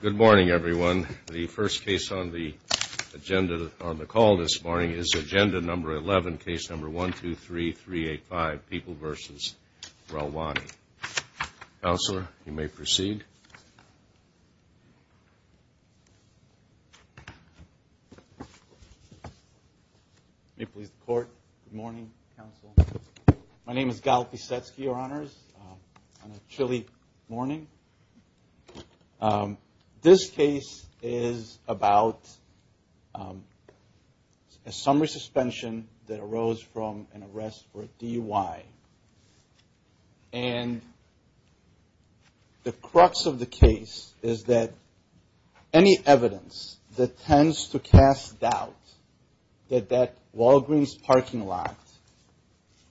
Good morning, everyone. The first case on the agenda, on the call this morning, is Agenda No. 11, Case No. 123385, People v. Relwani. Counselor, you may proceed. My name is Gal Pisetsky, Your Honors. On a chilly morning. This case is about a summary suspension that arose from an arrest for a DUI. And the crux of the case is that any evidence that tends to cast doubt that that Walgreens parking lot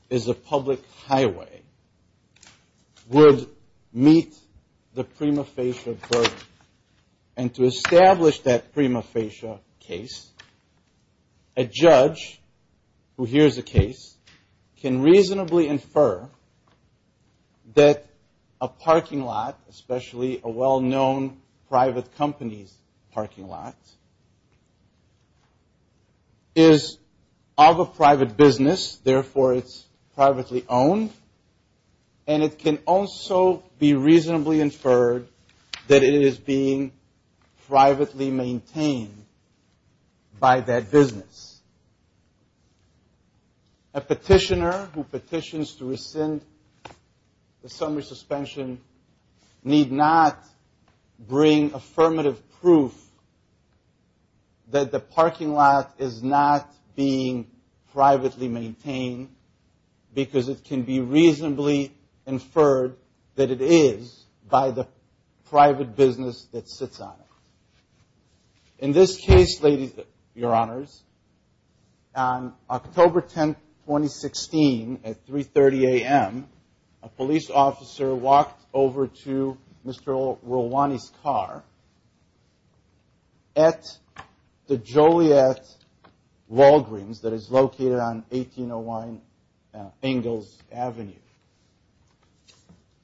is a public highway would meet the prima facie burden. And to establish that prima facie case, a judge who hears the case can reasonably infer that a parking lot, especially a well-known private company's parking lot, is of a private business. Therefore, it's privately owned. And it can also be reasonably inferred that it is being privately maintained by that business. A petitioner who In this case, Your Honors, on October 10, 2016, at 3.30 a.m., a police officer walked over to Mr. Relwani's car at the Joliet Walgreens that is located on 1801 Ingalls Avenue.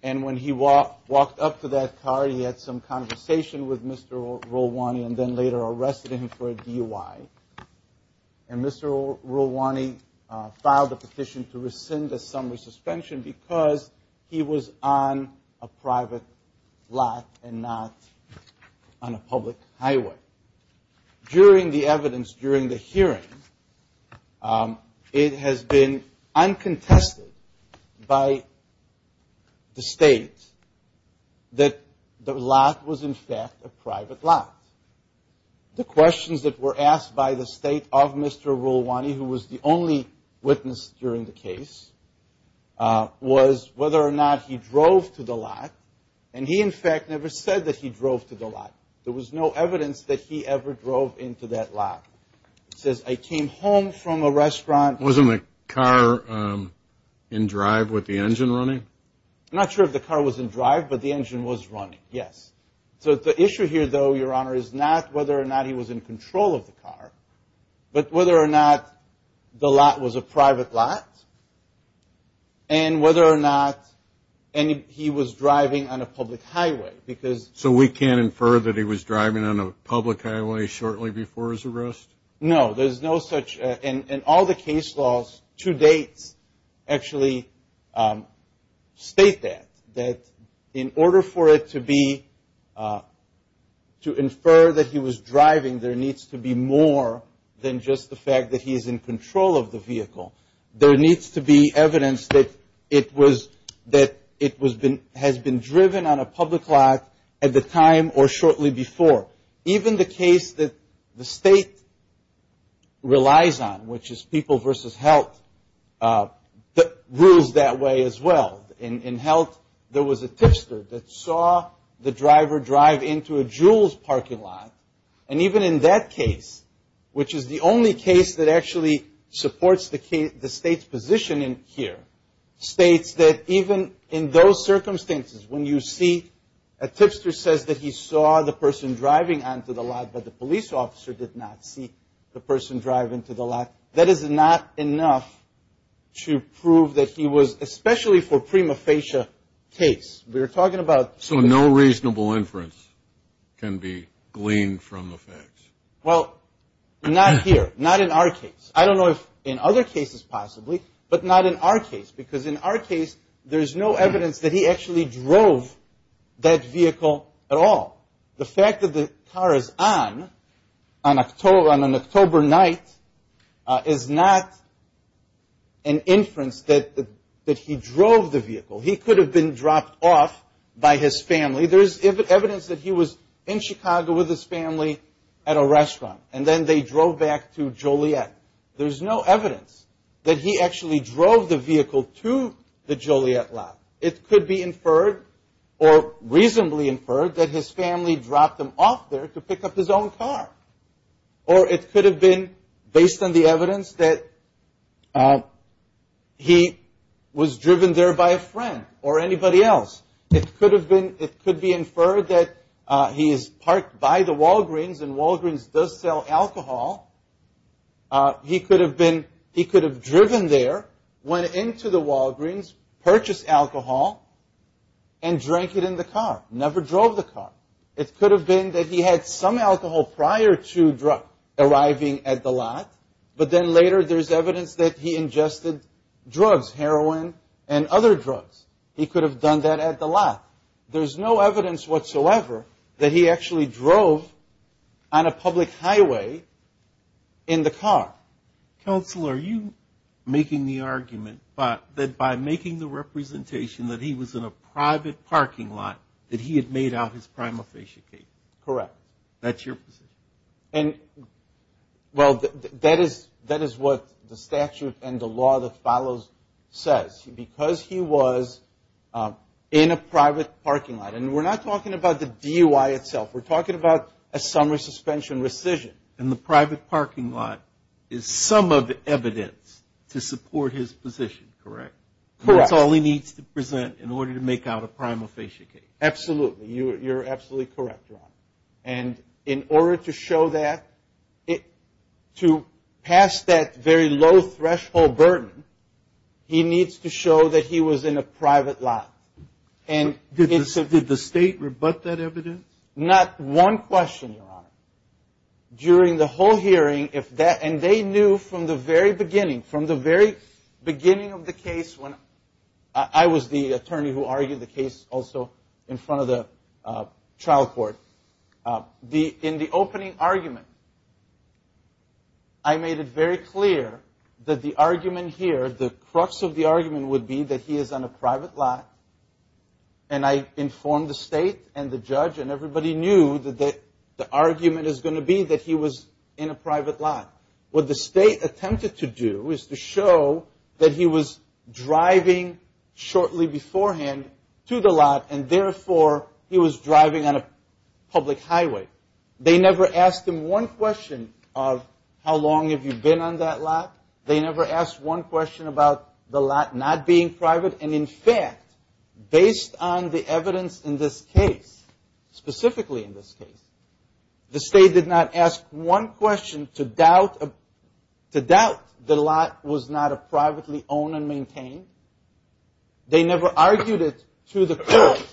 And when he walked up to that car, he had some conversation with Mr. Relwani and then later arrested him for a DUI. And Mr. Relwani filed a petition to rescind the summary suspension because he was on a private lot and not on a public highway. During the evidence, during the hearing, it has been uncontested by the state that the lot was in fact a private lot. The questions that were asked by the state of Mr. Relwani, who was the only witness during the case, was whether or not he drove to the lot. And he, in fact, never said that he drove to the lot. There was no evidence that he ever drove into that lot. It says, I came home from a restaurant. Wasn't the car in drive with the engine running? I'm not sure if the car was in drive, but the engine was running. Yes. So the issue here, though, Your Honor, is not whether or not he was in control of the car, but whether or not the lot was a private lot and whether or not he was driving on a public highway. So we can't infer that he was driving on a public highway shortly before his arrest? No, there's no such. And all the case laws to date actually state that. That in order for it to be, to infer that he was driving, there needs to be more than just the fact that he is in control of the vehicle. There needs to be evidence that it was, that it has been driven on a public lot at the time or shortly before. Even the case that the state relies on, which is people versus health, rules that way as well. In health, there was a tipster that saw the driver drive into a Jules parking lot. And even in that case, which is the only case that actually supports the state's position here, states that even in those circumstances, when you see a tipster says that he saw the person driving onto the lot, but the police officer did not see the person driving to the lot, that is not enough to prove that he was, especially for prima facie case. So no reasonable inference can be gleaned from the facts? Well, not here. Not in our case. I don't know if in other cases possibly, but not in our case. Because in our case, there's no evidence that he actually drove that vehicle at all. The fact that the car is on, on an October night, is not an inference that he drove the vehicle. He could have been dropped off by his family. There's evidence that he was in Chicago with his family at a restaurant and then they drove back to Joliet. There's no evidence that he actually drove the vehicle to the Joliet lot. It could be inferred or reasonably inferred that his family dropped him off there to pick up his own car. Or it could have been based on the evidence that he was driven there by a friend or anybody else. It could have been, it could be inferred that he is parked by the Walgreens and Walgreens does sell alcohol. He could have been, he could have driven there, went into the Walgreens, purchased alcohol and drank it in the car, never drove the car. It could have been that he had some alcohol prior to arriving at the lot, but then later there's evidence that he ingested drugs, heroin and other drugs. There's no evidence whatsoever that he actually drove on a public highway in the car. Counsel, are you making the argument that by making the representation that he was in a private parking lot that he had made out his prima facie case? Correct. That's your position? Well, that is what the statute and the law that follows says. Because he was in a private parking lot. And we're not talking about the DUI itself. We're talking about a summary suspension rescission. In the private parking lot is some of the evidence to support his position, correct? Correct. That's all he needs to present in order to make out a prima facie case. Absolutely. You're absolutely correct, Your Honor. And in order to show that, to pass that very low threshold burden, he needs to show that he was in a private lot. Did the state rebut that evidence? Not one question, Your Honor. During the whole hearing, if that, and they knew from the very beginning, from the very beginning of the case when I was the attorney who argued the case also in front of the trial court, in the opening argument, I made it very clear that the argument here, the crux of the argument would be that he is on a private lot. And I informed the state and the judge and everybody knew that the argument is going to be that he was in a private lot. What the state attempted to do is to show that he was driving shortly beforehand to the lot and, therefore, he was driving on a public highway. They never asked him one question of how long have you been on that lot. They never asked one question about the lot not being private. And, in fact, based on the evidence in this case, specifically in this case, the state did not ask one question to doubt the lot was not a privately owned and maintained. They never argued it to the court.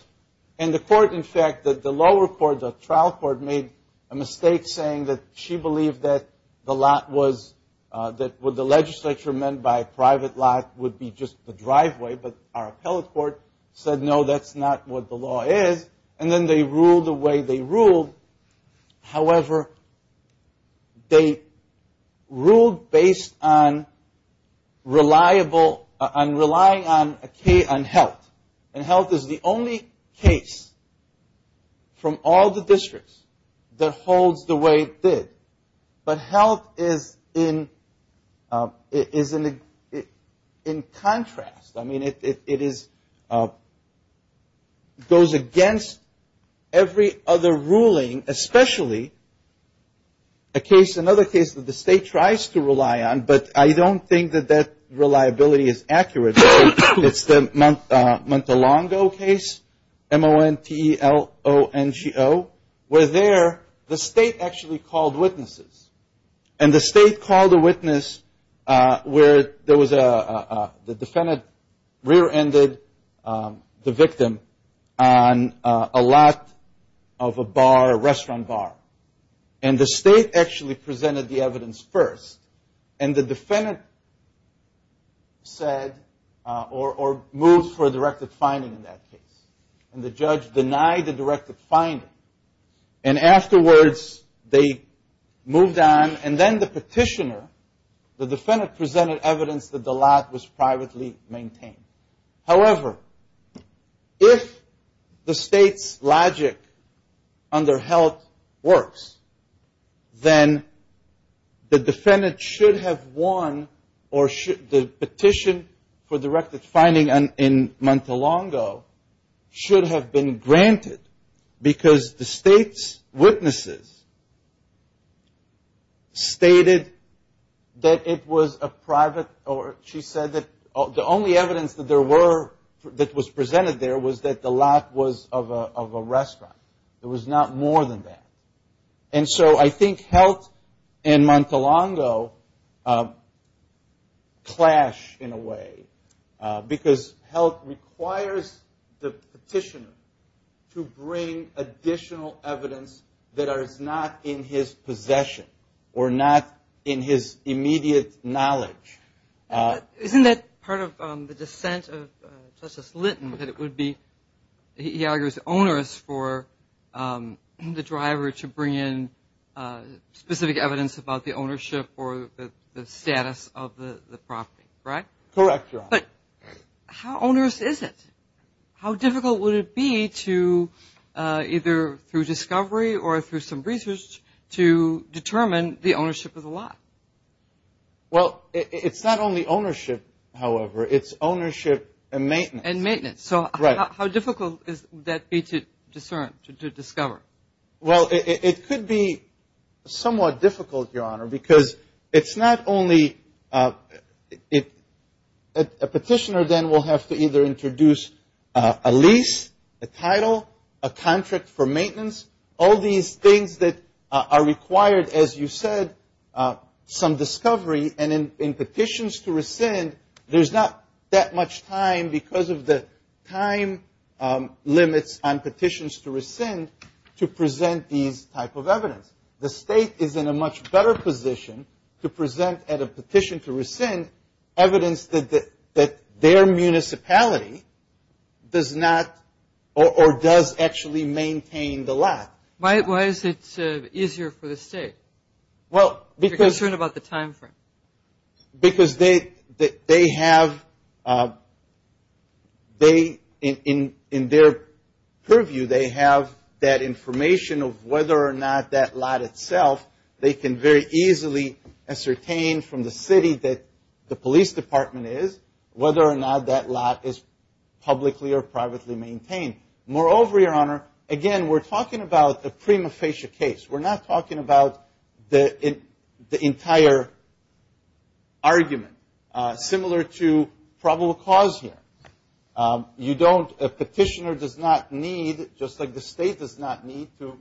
And the court, in fact, the lower court, the trial court, made a mistake saying that she believed that the lot was, that what the legislature meant by private lot would be just the driveway. But our appellate court said, no, that's not what the law is. And then they ruled the way they on health. And health is the only case from all the districts that holds the way it did. But health is in contrast. I mean, it is, goes against every other It's the Montelongo case, M-O-N-T-E-L-O-N-G-O, where there the state actually called witnesses. And the state called a witness where there was a, the defendant said or moved for a directed finding in that case. And the judge denied the directed finding. And afterwards they moved on. And then the petitioner, the defendant, presented evidence that the lot was privately maintained. However, if the state's logic under health works, then the petition for directed finding in Montelongo should have been granted. Because the state's witnesses stated that it was a private, or she said that the only evidence that there were that was presented there was that the lot was of a restaurant. It was not more than that. And so I think health in a way. Because health requires the petitioner to bring additional evidence that is not in his possession or not in his immediate knowledge. Isn't that part of the dissent of Justice Litton, that it would be, he argues, onerous for the driver to bring in specific evidence about the ownership or the status of the property, right? Correct, Your Honor. But how onerous is it? How difficult would it be to either through discovery or through some ownership? It's not only ownership, however. It's ownership and maintenance. And maintenance. So how difficult would that be to discern, to discover? Well, it could be somewhat difficult, Your Honor, because it's not only a petitioner then will have to either introduce a lease, a title, a contract for maintenance. All these things that are required, as you said, some discovery. And in petitions to rescind, there's not that much time because of the time limits on petitions to rescind to present these type of evidence. The state is in a much better position to present at a petition to rescind evidence that their municipality does not or does actually maintain the lot. Why is it easier for the state? Well, because... If you're concerned about the time frame. Because they have, in their purview, they have that information of whether or not that lot itself, they can very easily ascertain from the city that the police department is, whether or not that lot is publicly or privately maintained. Moreover, Your Honor, again, we're talking about a prima facie case. We're not talking about the entire argument. Similar to probable cause here. You don't, a petitioner does not need, just like the state does not need to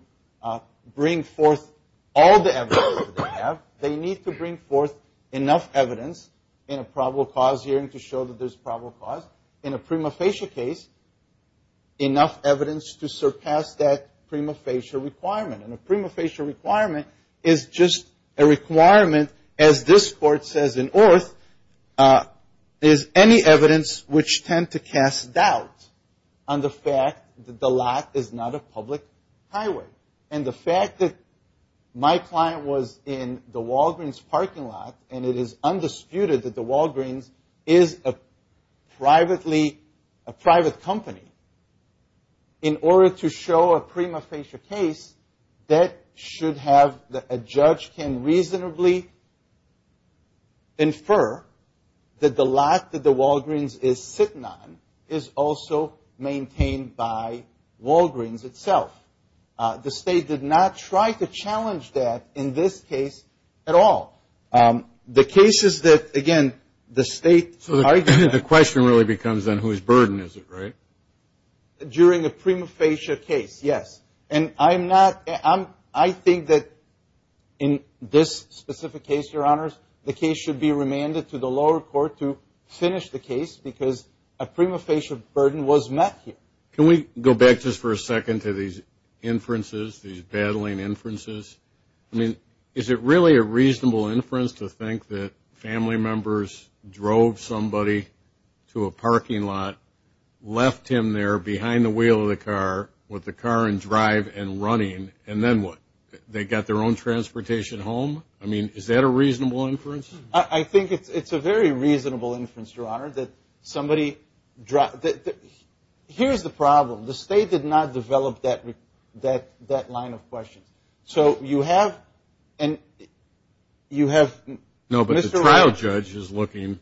bring forth all the evidence that they have. They need to bring forth enough evidence in a probable cause hearing to show that there's probable cause. In a prima facie case, enough evidence to surpass that prima facie requirement. And a prima facie requirement is just a requirement, as this Court says in Orth, is any evidence which tend to be in the parking lot, and it is undisputed that the Walgreens is a private company, in order to show a prima facie case, that should have, a judge can reasonably infer that the lot that the Walgreens is sitting on is also maintained by Walgreens itself. The state did not try to challenge that in this case at all. The cases that, again, the state... So the question really becomes then whose burden is it, right? During a prima facie case, yes. And I'm not, I think that in this specific case, Your Honors, the case should be remanded to the lower court to finish the case, because a prima facie burden was met here. Can we go back just for a second to these inferences, these battling inferences? I mean, is it really a reasonable inference to think that family members drove somebody to a parking lot, left him there behind the wheel of the car, with the car in drive and running, and then what? They got their own transportation home? I mean, is that a reasonable inference? I think it's a very reasonable inference, Your Honor, that somebody... Here's the problem. The state did not develop that line of questions. So you have, and you have... No, but the trial judge is looking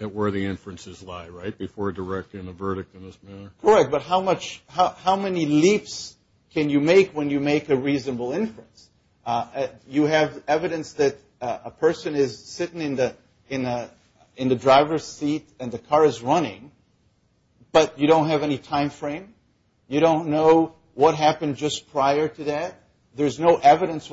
at where the inferences lie, right, before directing a verdict in this manner? Correct, but how much, how many leaps can you make when you make a reasonable inference? You have evidence that a person is sitting in the driver's seat and the car is running, but you don't have any time frame. You don't know what happened just prior to that. There's no evidence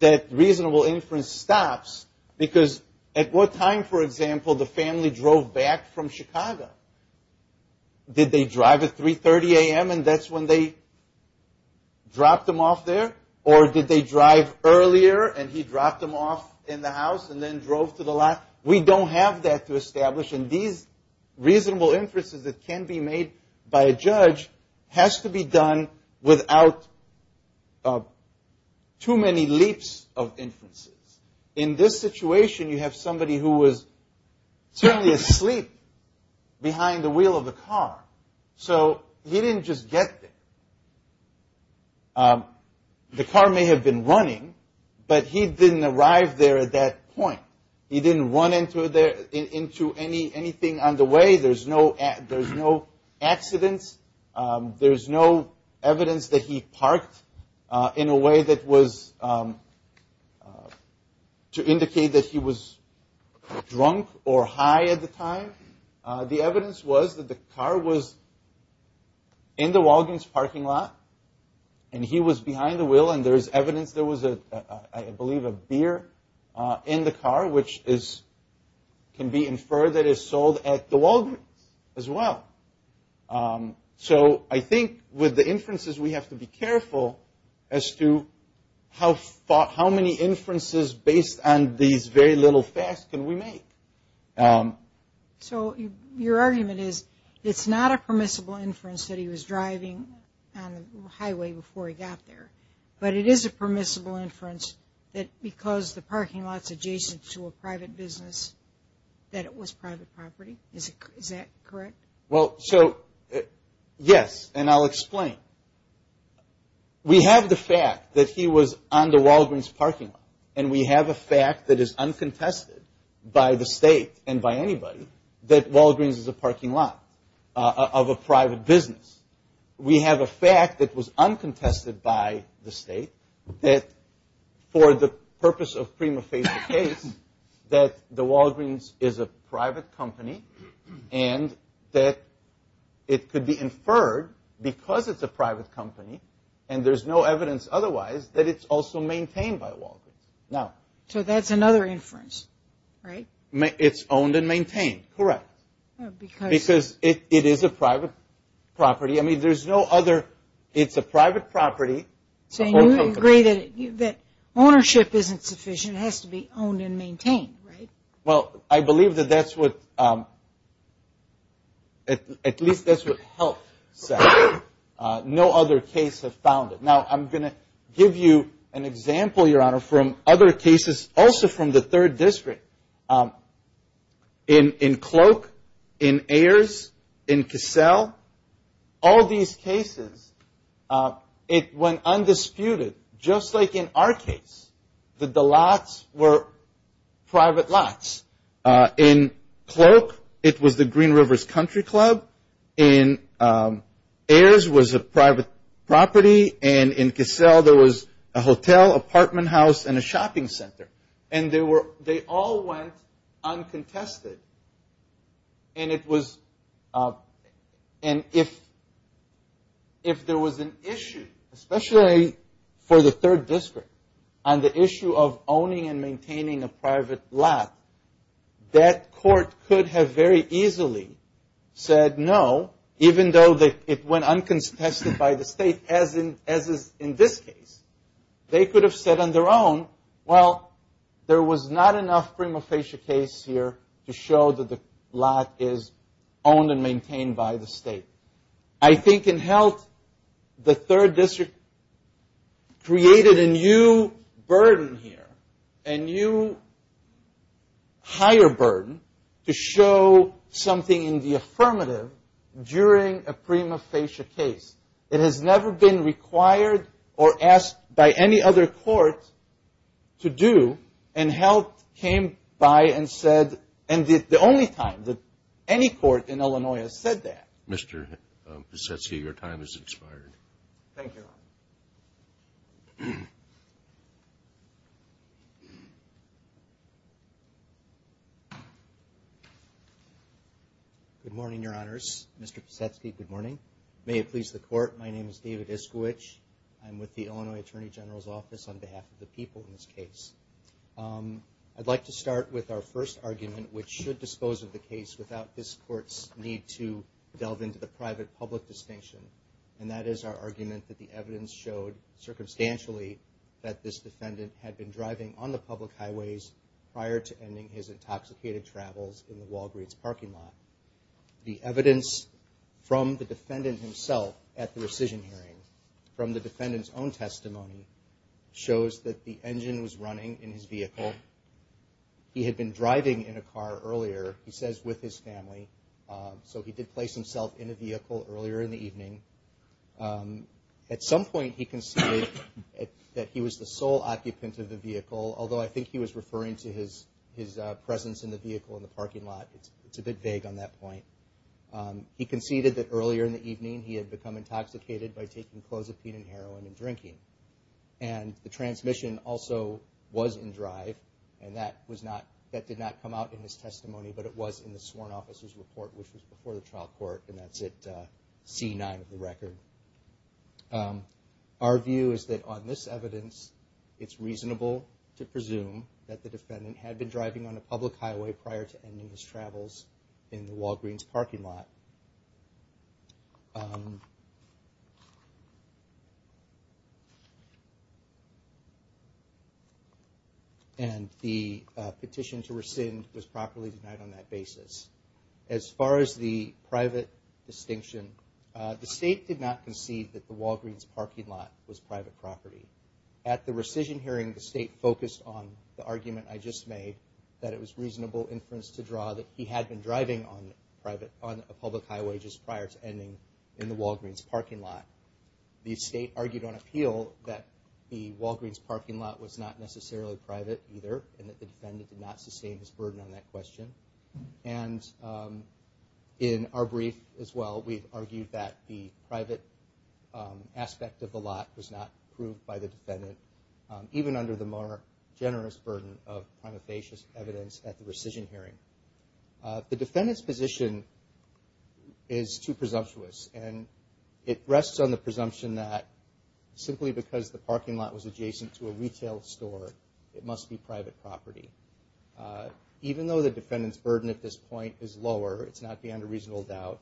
that reasonable inference stops, because at what time, for example, the family drove back from Chicago? Did they drive at 3.30 a.m. and that's when they dropped them off there? Or did they drive earlier and he dropped them off in the house and then drove to the lot? We don't have that to establish, and these reasonable inferences that can be made by a judge has to be done without too many leaps of inferences. In this situation, you have somebody who was certainly asleep behind the wheel of a car, so he didn't just get there. The car may have been running, but he didn't arrive there at that point. He didn't run into anything on the way. There's no accidents. There's no evidence that he parked in a way that was to indicate that he was drunk or high at the time. The evidence was that the car was in the Walgreens parking lot, and he was behind the wheel, and there's evidence there was, I believe, a beer in the car, which can be inferred that is sold at the Walgreens as well. So I think with the inferences, we have to be careful as to how many inferences based on these very little facts can we make. So your argument is it's not a permissible inference that he was driving on the highway before he got there, but it is a permissible inference that because the parking lot's adjacent to a private business, that it was private property. Is that correct? Well, so yes, and I'll explain. We have the fact that he was on the Walgreens parking lot, and we have a fact that is uncontested by the state and by anybody that Walgreens is a parking lot of a private business. We have a fact that was uncontested by the state that for the purpose of prima company, and that it could be inferred because it's a private company, and there's no evidence otherwise that it's also maintained by Walgreens. So that's another inference, right? It's owned and maintained, correct, because it is a private property. I mean, there's no other. It's a private property. So you agree that ownership isn't sufficient. It has to be owned and maintained, right? Well, I believe that that's what, at least that's what health said. No other case has found it. Now, I'm going to give you an example, Your Honor, from other cases, also from the 3rd District. In Cloak, in Ayers, in Cassell, all these cases, it went undisputed, just like in our private lots. In Cloak, it was the Green Rivers Country Club. In Ayers, it was a private property. And in Cassell, there was a hotel, apartment house, and a shopping center. And they all went uncontested. And if there was an issue, especially for the 3rd District, on the issue of owning and maintaining a private lot, that court could have very easily said no, even though it went uncontested by the state, as is in this case. They could have said on their own, well, there was not enough prima facie case here to show that the lot is owned and burden here, a new higher burden to show something in the affirmative during a prima facie case. It has never been required or asked by any other court to do. And health came by and said, and the only time that any court in Illinois has said that. Mr. Posetsky, your time has expired. Thank you, Your Honor. Good morning, Your Honors. Mr. Posetsky, good morning. May it please the Court, my name is David Iskowich. I'm with the Illinois Attorney General's case. I'd like to start with our first argument, which should dispose of the case without this Court's need to delve into the private-public distinction. And that is our argument that the evidence showed, circumstantially, that this defendant had been driving on the public highways prior to ending his intoxicated travels in the Walgreens parking lot. The evidence from the defendant himself at the rescission hearing, from the defendant's own testimony, shows that the engine was running in his vehicle. He had been driving in a car earlier, he says, with his family. So he did place himself in a vehicle earlier in the evening. At some point he conceded that he was the sole occupant of the vehicle, although I think he was referring to his presence in the vehicle in the parking lot. It's a bit vague on that point. He conceded that earlier in the evening he had become intoxicated by taking clozapine and heroin and drinking. And the transmission also was in drive, and that did not come out in his testimony, but it was in the sworn officer's report, which was before the trial court, and that's at C-9 of the record. Our view is that on this evidence, it's reasonable to presume that the defendant had been driving on a public highway prior to ending his travels in the Walgreens parking lot. And the petition to rescind was properly denied on that basis. As far as the private distinction, the State did not concede that the Walgreens parking lot was private property. At the rescission hearing, the State focused on the argument I just made, that it was reasonable inference to draw that he had been driving on a public highway just prior to ending in the Walgreens parking lot. The State argued on appeal that the Walgreens parking lot was not necessarily private either, and that the defendant did not sustain his burden on that question. And in our brief as well, we've argued that the private aspect of the lot was not approved by the defendant, even under the more generous burden of prima facie evidence at the rescission hearing. The defendant's position is too presumptuous, and it rests on the presumption that simply because the parking lot was adjacent to a retail store, it must be private property. Even though the defendant's burden at this point is lower, it's not beyond a reasonable doubt,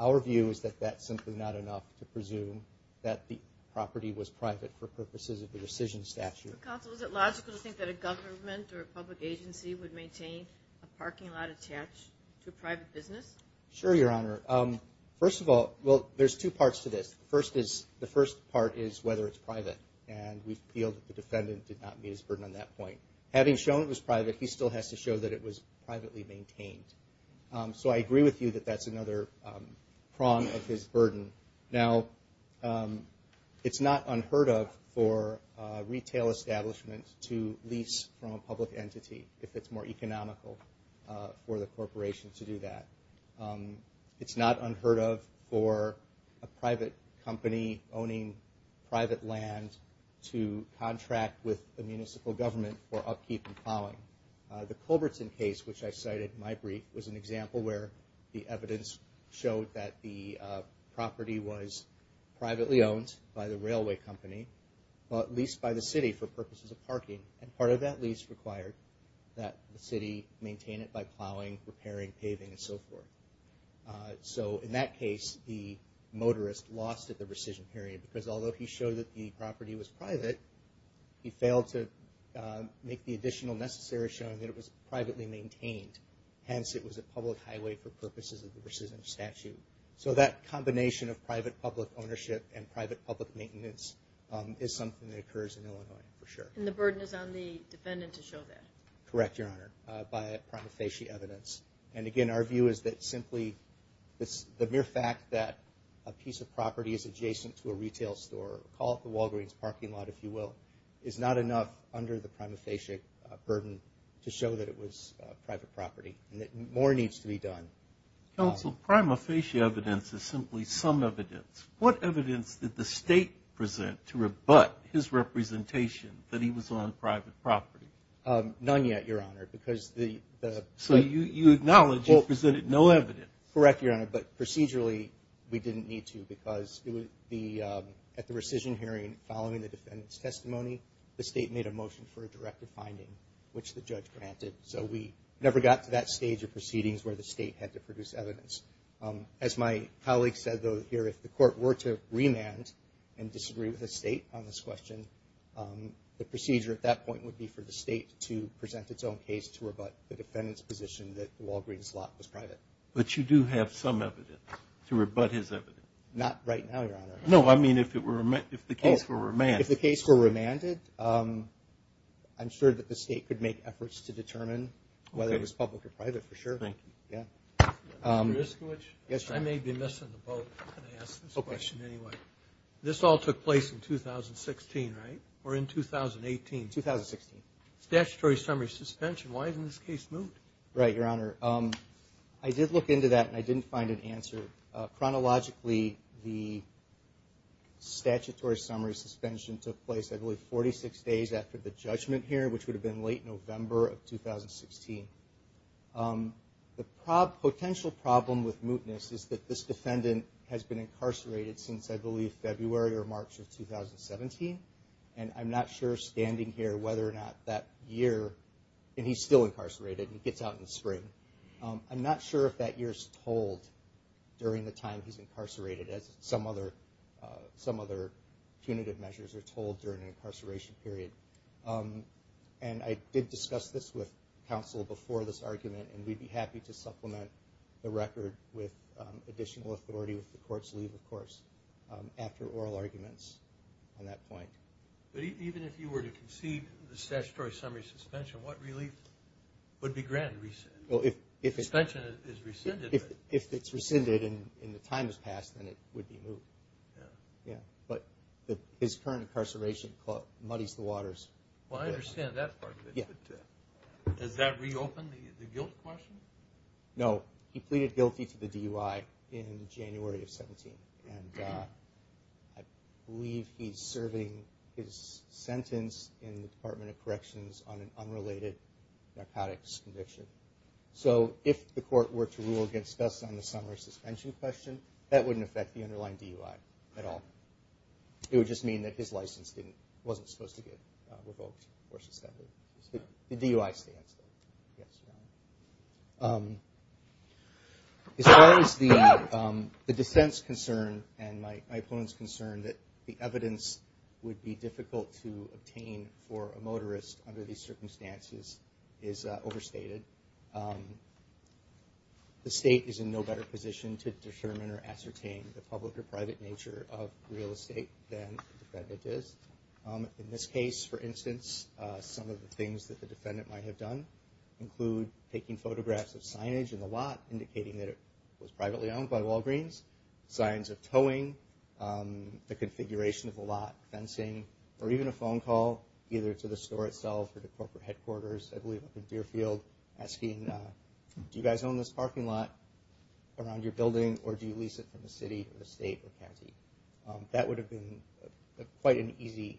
our view is that that's simply not enough to presume that the parking lot was private for purposes of the rescission statute. Counsel, is it logical to think that a government or a public agency would maintain a parking lot attached to a private business? Sure, Your Honor. First of all, well, there's two parts to this. The first part is whether it's private, and we feel that the defendant did not meet his burden on that point. Having shown it was private, he still has to show that it was privately maintained. So I agree with you that that's another prong of his for a retail establishment to lease from a public entity, if it's more economical for the corporation to do that. It's not unheard of for a private company owning private land to contract with the municipal government for upkeep and plowing. The Culbertson case, which I cited in my brief, was an lease by the city for purposes of parking, and part of that lease required that the city maintain it by plowing, repairing, paving, and so forth. So in that case, the motorist lost at the rescission period, because although he showed that the property was private, he failed to make the additional necessary showing that it was privately maintained. Hence, it was a public highway for purposes of the rescission statute. So that combination of private-public ownership and private-public maintenance is something that occurs in Illinois, for sure. And the burden is on the defendant to show that? Correct, Your Honor, by prima facie evidence. And again, our view is that simply the mere fact that a piece of property is adjacent to a retail store, call it the Walgreens parking lot, if you will, is not enough under the prima facie burden to show that it was private property, and that more needs to be done. Counsel, prima facie evidence is simply some evidence. What evidence did the State present to rebut his representation that he was on private property? None yet, Your Honor, because the... So you acknowledge you presented no evidence? Correct, Your Honor, but procedurally, we didn't need to, because at the rescission hearing, following the defendant's testimony, the State made a which the judge granted. So we never got to that stage of proceedings where the State had to produce evidence. As my colleague said, though, here, if the court were to remand and disagree with the State on this question, the procedure at that point would be for the State to present its own case to rebut the defendant's position that the Walgreens lot was private. But you do have some evidence to rebut his evidence? Not right now, Your Honor. No, I mean if the case were remanded. I'm sure that the State could make efforts to determine whether it was public or private, for sure. Thank you. Mr. Iskowich? Yes, sir. I may be missing the boat when I ask this question, anyway. This all took place in 2016, right? Or in 2018? 2016. Statutory summary suspension. Why hasn't this case moved? Right, Your Honor. I did look into that and I didn't find an answer. Chronologically, the statutory summary suspension took place, I believe, 46 days after the judgment here, which would have been late November of 2016. The potential problem with mootness is that this defendant has been incarcerated since, I believe, it's out in the spring. I'm not sure if that year's told during the time he's incarcerated, as some other punitive measures are told during an incarceration period. And I did discuss this with counsel before this argument, and we'd be happy to supplement the record with additional authority with the court's leave, of course, after oral arguments on that point. But even if you were to concede the statutory summary suspension, what relief would be granted? Suspension is rescinded. If it's rescinded and the time has passed, then it would be moot. But his current incarceration muddies the waters. Well, I understand that part of it, but does that reopen the guilt question? No. He pleaded guilty to the DUI in January of 2017, and I believe he's serving his sentence in the Department of Corrections on an unrelated narcotics conviction. So if the court were to rule against us on the summary suspension question, that wouldn't affect the underlying DUI at all. It would just mean that his license wasn't supposed to get revoked or suspended. The DUI stands, though. As far as the defense concern and my opponent's concern that the evidence would be difficult to obtain for a motorist under these circumstances is overstated. The state is in no better position to determine or ascertain the public or private nature of real estate than the defendant is. In this case, for instance, some of the things that the defendant might have done include taking photographs of signage in the lot, indicating that it was privately owned by Walgreens, signs of towing, the configuration of the lot, fencing, or even a phone call, either to the store itself or to corporate headquarters, I believe up in Deerfield, asking, do you guys own this parking lot around your building, or do you lease it from the city or the state or county? That would have been quite an easy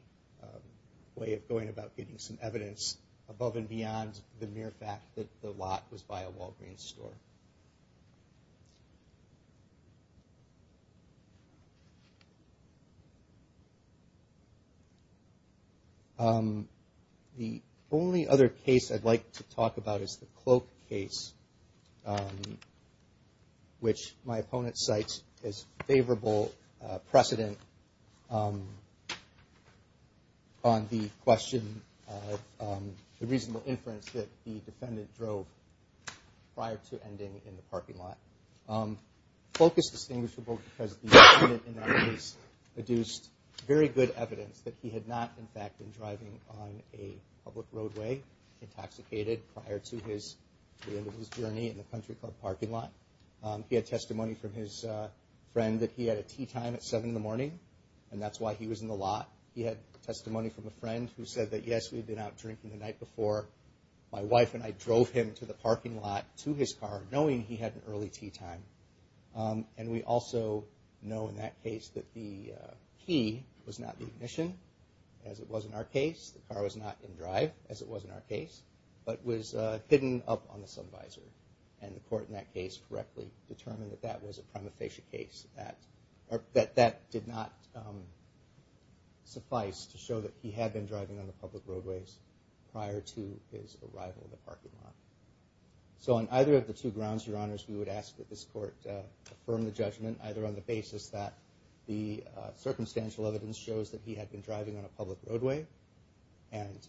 way of going about getting some evidence above and beyond the mere fact that the lot was by a Walgreens store. The only other case I'd like to talk about is the Cloak case, which my opponent cites as favorable precedent on the question of the reasonable inference that the defendant drove prior to ending in the parking lot. Cloak is distinguishable because the defendant in that case produced very good evidence that he had not, in fact, been driving on a public roadway intoxicated prior to the end of his journey in the country club parking lot. He had testimony from his friend that he had a tea time at 7 in the morning, and that's why he was in the lot. He had testimony from a friend who said that, yes, we'd been out drinking the night before. My wife and I drove him to the parking lot to his car, knowing he had an early tea time. And we also know in that case that the key was not the ignition, as it was in our case. The car was not in drive, as it was in our case, but was hidden up on the sun visor. And the court in that case correctly determined that that was a prima facie case, that that did not suffice to show that he had been driving on the public roadways prior to his arrival in the parking lot. So on either of the two grounds, Your Honors, we would ask that this court affirm the judgment, either on the basis that the circumstantial evidence shows that he had been driving on a public roadway, and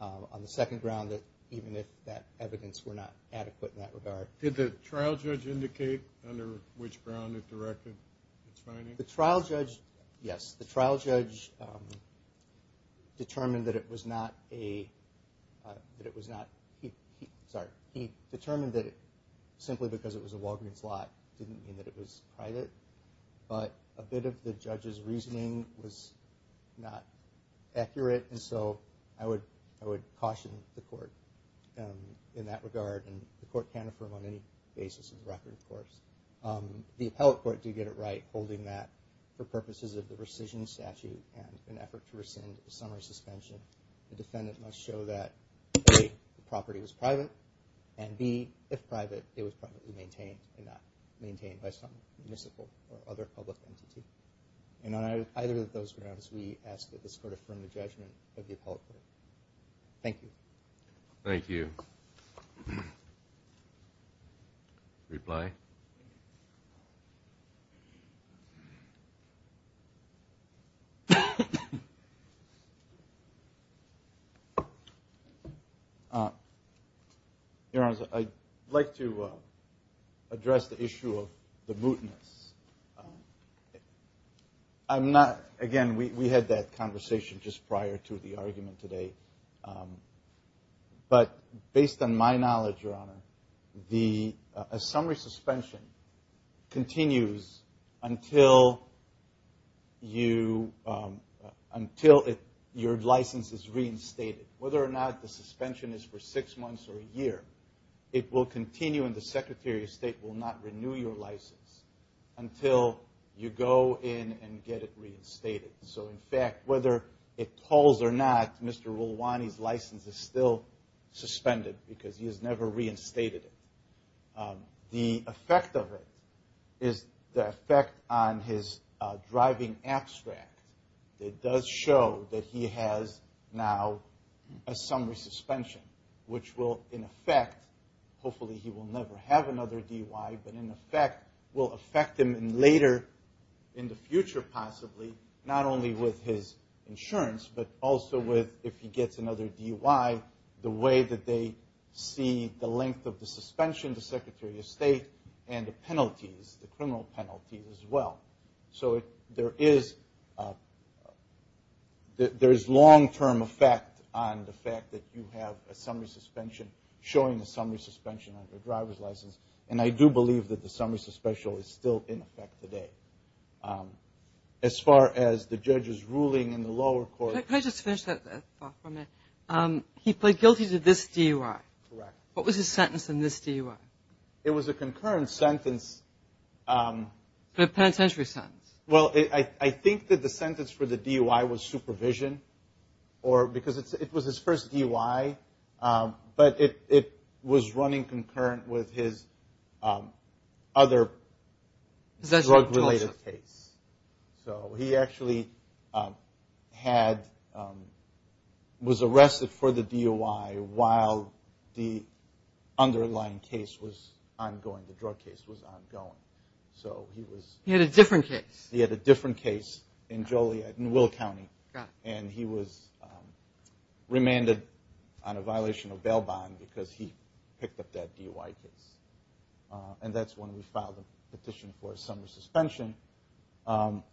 on the second ground that even if that evidence were not adequate in that regard. Did the trial judge indicate under which ground it directed its finding? The trial judge, yes. The trial judge determined that it was not a – that it was not – sorry, he determined that simply because it was a Walgreens lot didn't mean that it was private. But a bit of the judge's reasoning was not accurate, and so I would caution the court in that regard. And the court can affirm on any basis in the record, of course. The appellate court did get it right, holding that for purposes of the rescission statute and an effort to rescind a summary suspension, the defendant must show that, A, the property was private, and B, if private, it was privately maintained and not maintained by some municipal or other public entity. And on either of those grounds, we ask that this court affirm the judgment of the appellate court. Thank you. Thank you. Reply. Your Honor, I'd like to address the issue of the mootness. I'm not – again, we had that conversation just prior to the argument today. But based on my knowledge, Your Honor, a summary suspension continues until your license is reinstated. Whether or not the suspension is for six months or a year, it will continue and the Secretary of State will not renew your license until you go in and get it reinstated. So in fact, whether it calls or not, Mr. Rolwani's license is still suspended because he has never reinstated it. The effect of it is the effect on his driving abstract. It does show that he has now a summary suspension, which will in effect – hopefully he will never have another DUI, but in effect will affect him later in the future possibly, not only with his insurance, but also with if he gets another DUI, the way that they see the length of the suspension, the Secretary of State, and the penalties, the criminal penalties as well. So there is long-term effect on the fact that you have a summary suspension, showing a summary suspension on your driver's license. And I do believe that the summary suspension is still in effect today. As far as the judge's ruling in the lower court – Can I just finish that thought for a minute? He pled guilty to this DUI. Correct. What was his sentence in this DUI? It was a concurrent sentence. Penitentiary sentence. Well, I think that the sentence for the DUI was supervision because it was his first DUI, but it was running concurrent with his other drug-related case. So he actually was arrested for the DUI while the underlying case was ongoing, the drug case was ongoing. He had a different case. He had a different case in Joliet in Will County, and he was remanded on a violation of bail bond because he picked up that DUI case. And that's when we filed a petition for a summary suspension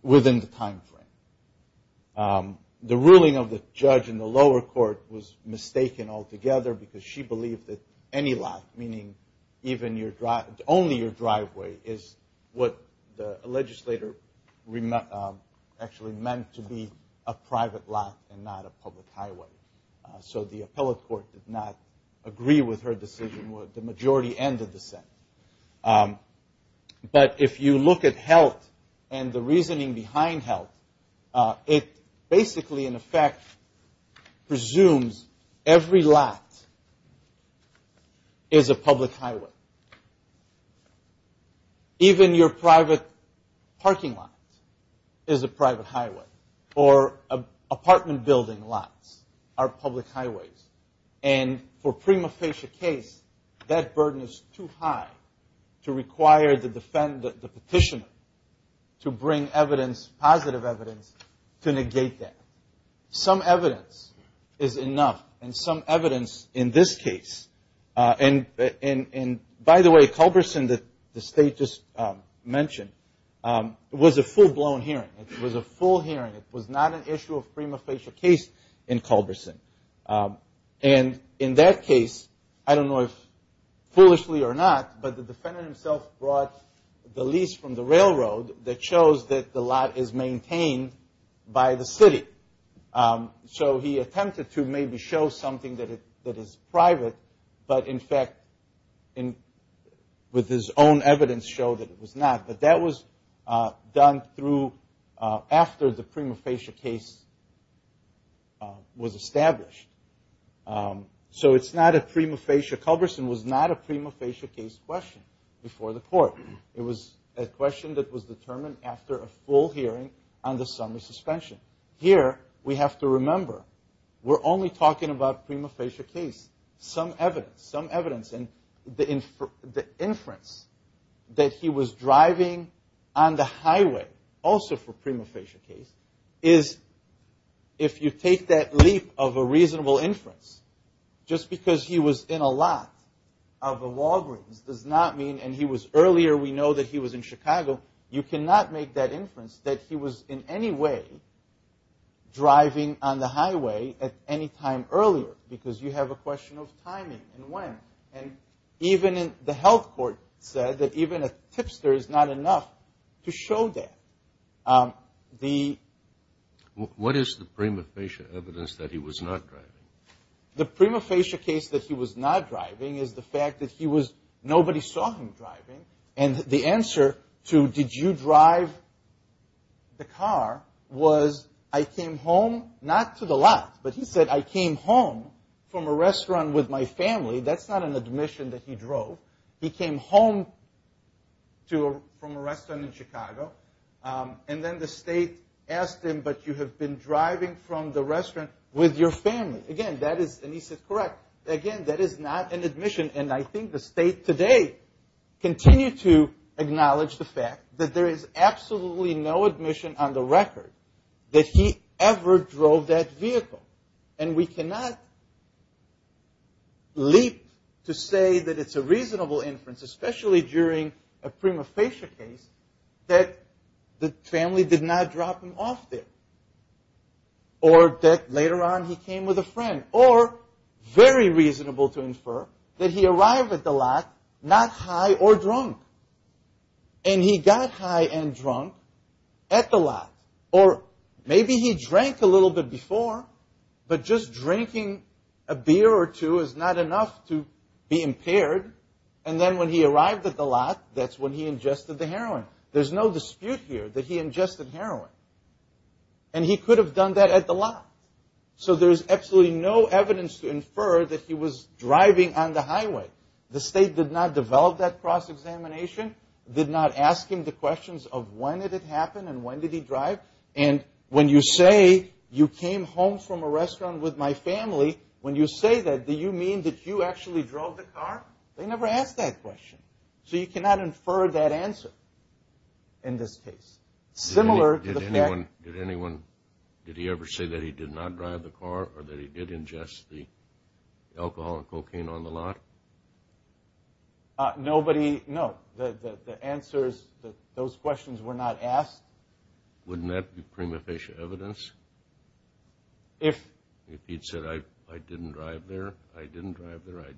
within the timeframe. The ruling of the judge in the lower court was mistaken altogether because she believed that any lot, meaning only your driveway, is what the legislator actually meant to be a private lot and not a public highway. So the appellate court did not agree with her decision. The majority ended the sentence. But if you look at HELT and the reasoning behind HELT, it basically, in effect, presumes every lot is a public highway. Even your private parking lot is a private highway, or apartment building lots are public highways. And for a prima facie case, that burden is too high to require the petitioner to bring evidence, positive evidence, to negate that. Some evidence is enough, and some evidence in this case. And, by the way, Culberson, that the State just mentioned, was a full-blown hearing. It was a full hearing. It was not an issue of prima facie case in Culberson. And in that case, I don't know if foolishly or not, but the defendant himself brought the lease from the railroad that shows that the lot is maintained by the city. So he attempted to maybe show something that is private, but in fact, with his own evidence, showed that it was not. But that was done after the prima facie case was established. So it's not a prima facie. Culberson was not a prima facie case question before the court. It was a question that was determined after a full hearing on the summer suspension. Here, we have to remember, we're only talking about prima facie case. Some evidence. Some evidence. And the inference that he was driving on the highway, also for prima facie case, is if you take that leap of a reasonable inference, just because he was in a lot of the Walgreens does not mean, and he was earlier, we know that he was in Chicago, you cannot make that inference that he was in any way driving on the highway at any time earlier, because you have a question of timing and when. And even the health court said that even a tipster is not enough to show that. What is the prima facie evidence that he was not driving? The prima facie case that he was not driving is the fact that nobody saw him driving, and the answer to did you drive the car was I came home, not to the lot, but he said I came home from a restaurant with my family. That's not an admission that he drove. He came home from a restaurant in Chicago, and then the state asked him, but you have been driving from the restaurant with your family. Again, that is, and he said, correct. Again, that is not an admission, and I think the state today continues to acknowledge the fact that there is absolutely no admission on the record that he ever drove that vehicle. And we cannot leap to say that it's a reasonable inference, especially during a prima facie case, that the family did not drop him off there, or that later on he came with a friend, or very reasonable to infer that he arrived at the lot not high or drunk, and he got high and drunk at the lot, or maybe he drank a little bit before, but just drinking a beer or two is not enough to be impaired, and then when he arrived at the lot, that's when he ingested the heroin. There's no dispute here that he ingested heroin, and he could have done that at the lot. So there's absolutely no evidence to infer that he was driving on the highway. The state did not develop that cross-examination, did not ask him the questions of when did it happen and when did he drive, and when you say you came home from a restaurant with my family, when you say that, do you mean that you actually drove the car? They never asked that question. So you cannot infer that answer in this case. Did he ever say that he did not drive the car or that he did ingest the alcohol and cocaine on the lot? Nobody, no. The answer is that those questions were not asked. Wouldn't that be prima facie evidence? If he'd said, I didn't drive there, I didn't drive there, I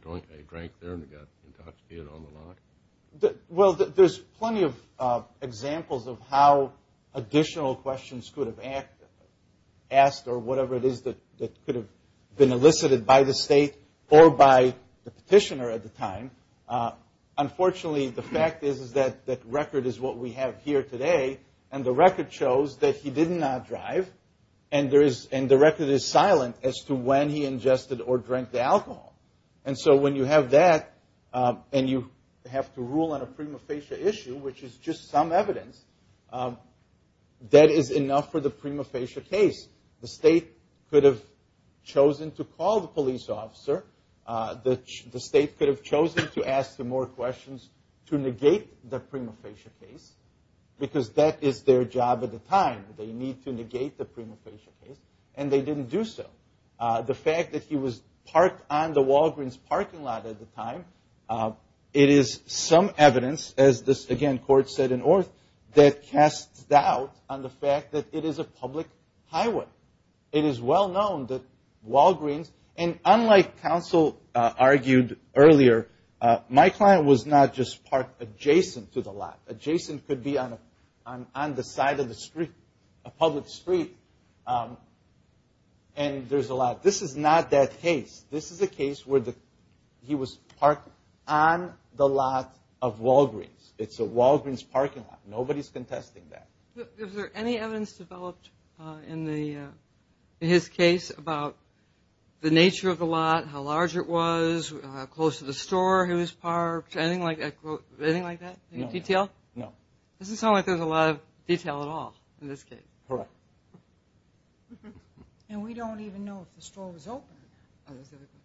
drank there and got intoxicated on the lot? Well, there's plenty of examples of how additional questions could have asked or whatever it is that could have been elicited by the state or by the petitioner at the time. Unfortunately, the fact is that record is what we have here today and the record shows that he did not drive and the record is silent as to when he ingested or drank the alcohol. And so when you have that and you have to rule on a prima facie issue, which is just some evidence, that is enough for the prima facie case. The state could have chosen to call the police officer. The state could have chosen to ask him more questions to negate the prima facie case because that is their job at the time. They need to negate the prima facie case and they didn't do so. The fact that he was parked on the Walgreens parking lot at the time, it is some evidence, as this again court said in Orth, that casts doubt on the fact that it is a public highway. It is well known that Walgreens, and unlike counsel argued earlier, my client was not just parked adjacent to the lot. Adjacent could be on the side of the street, a public street, and there's a lot. This is not that case. This is a case where he was parked on the lot of Walgreens. It's a Walgreens parking lot. Nobody is contesting that. Is there any evidence developed in his case about the nature of the lot, how large it was, how close to the store he was parked, anything like that? Any detail? No. It doesn't sound like there's a lot of detail at all in this case. Correct. We don't even know if the store was open.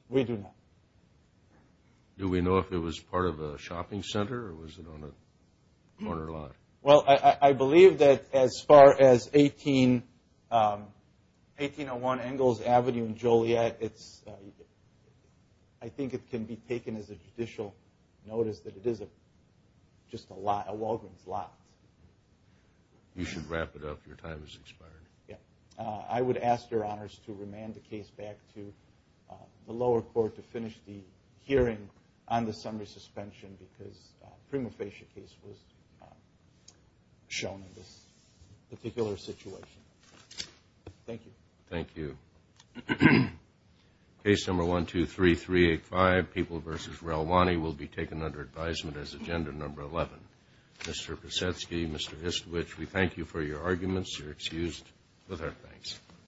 We do not. Do we know if it was part of a shopping center or was it on a corner lot? Well, I believe that as far as 1801 Engels Avenue in Joliet, I think it can be taken as a judicial notice that it is just a Walgreens lot. You should wrap it up. Your time has expired. I would ask Your Honors to remand the case back to the lower court to finish the hearing on the summary suspension because the prima facie case was shown in this particular situation. Thank you. Thank you. Case number 123385, People v. Relwani, will be taken under advisement as agenda number 11. Mr. Pesetsky, Mr. Histowich, we thank you for your arguments. You're excused with our thanks.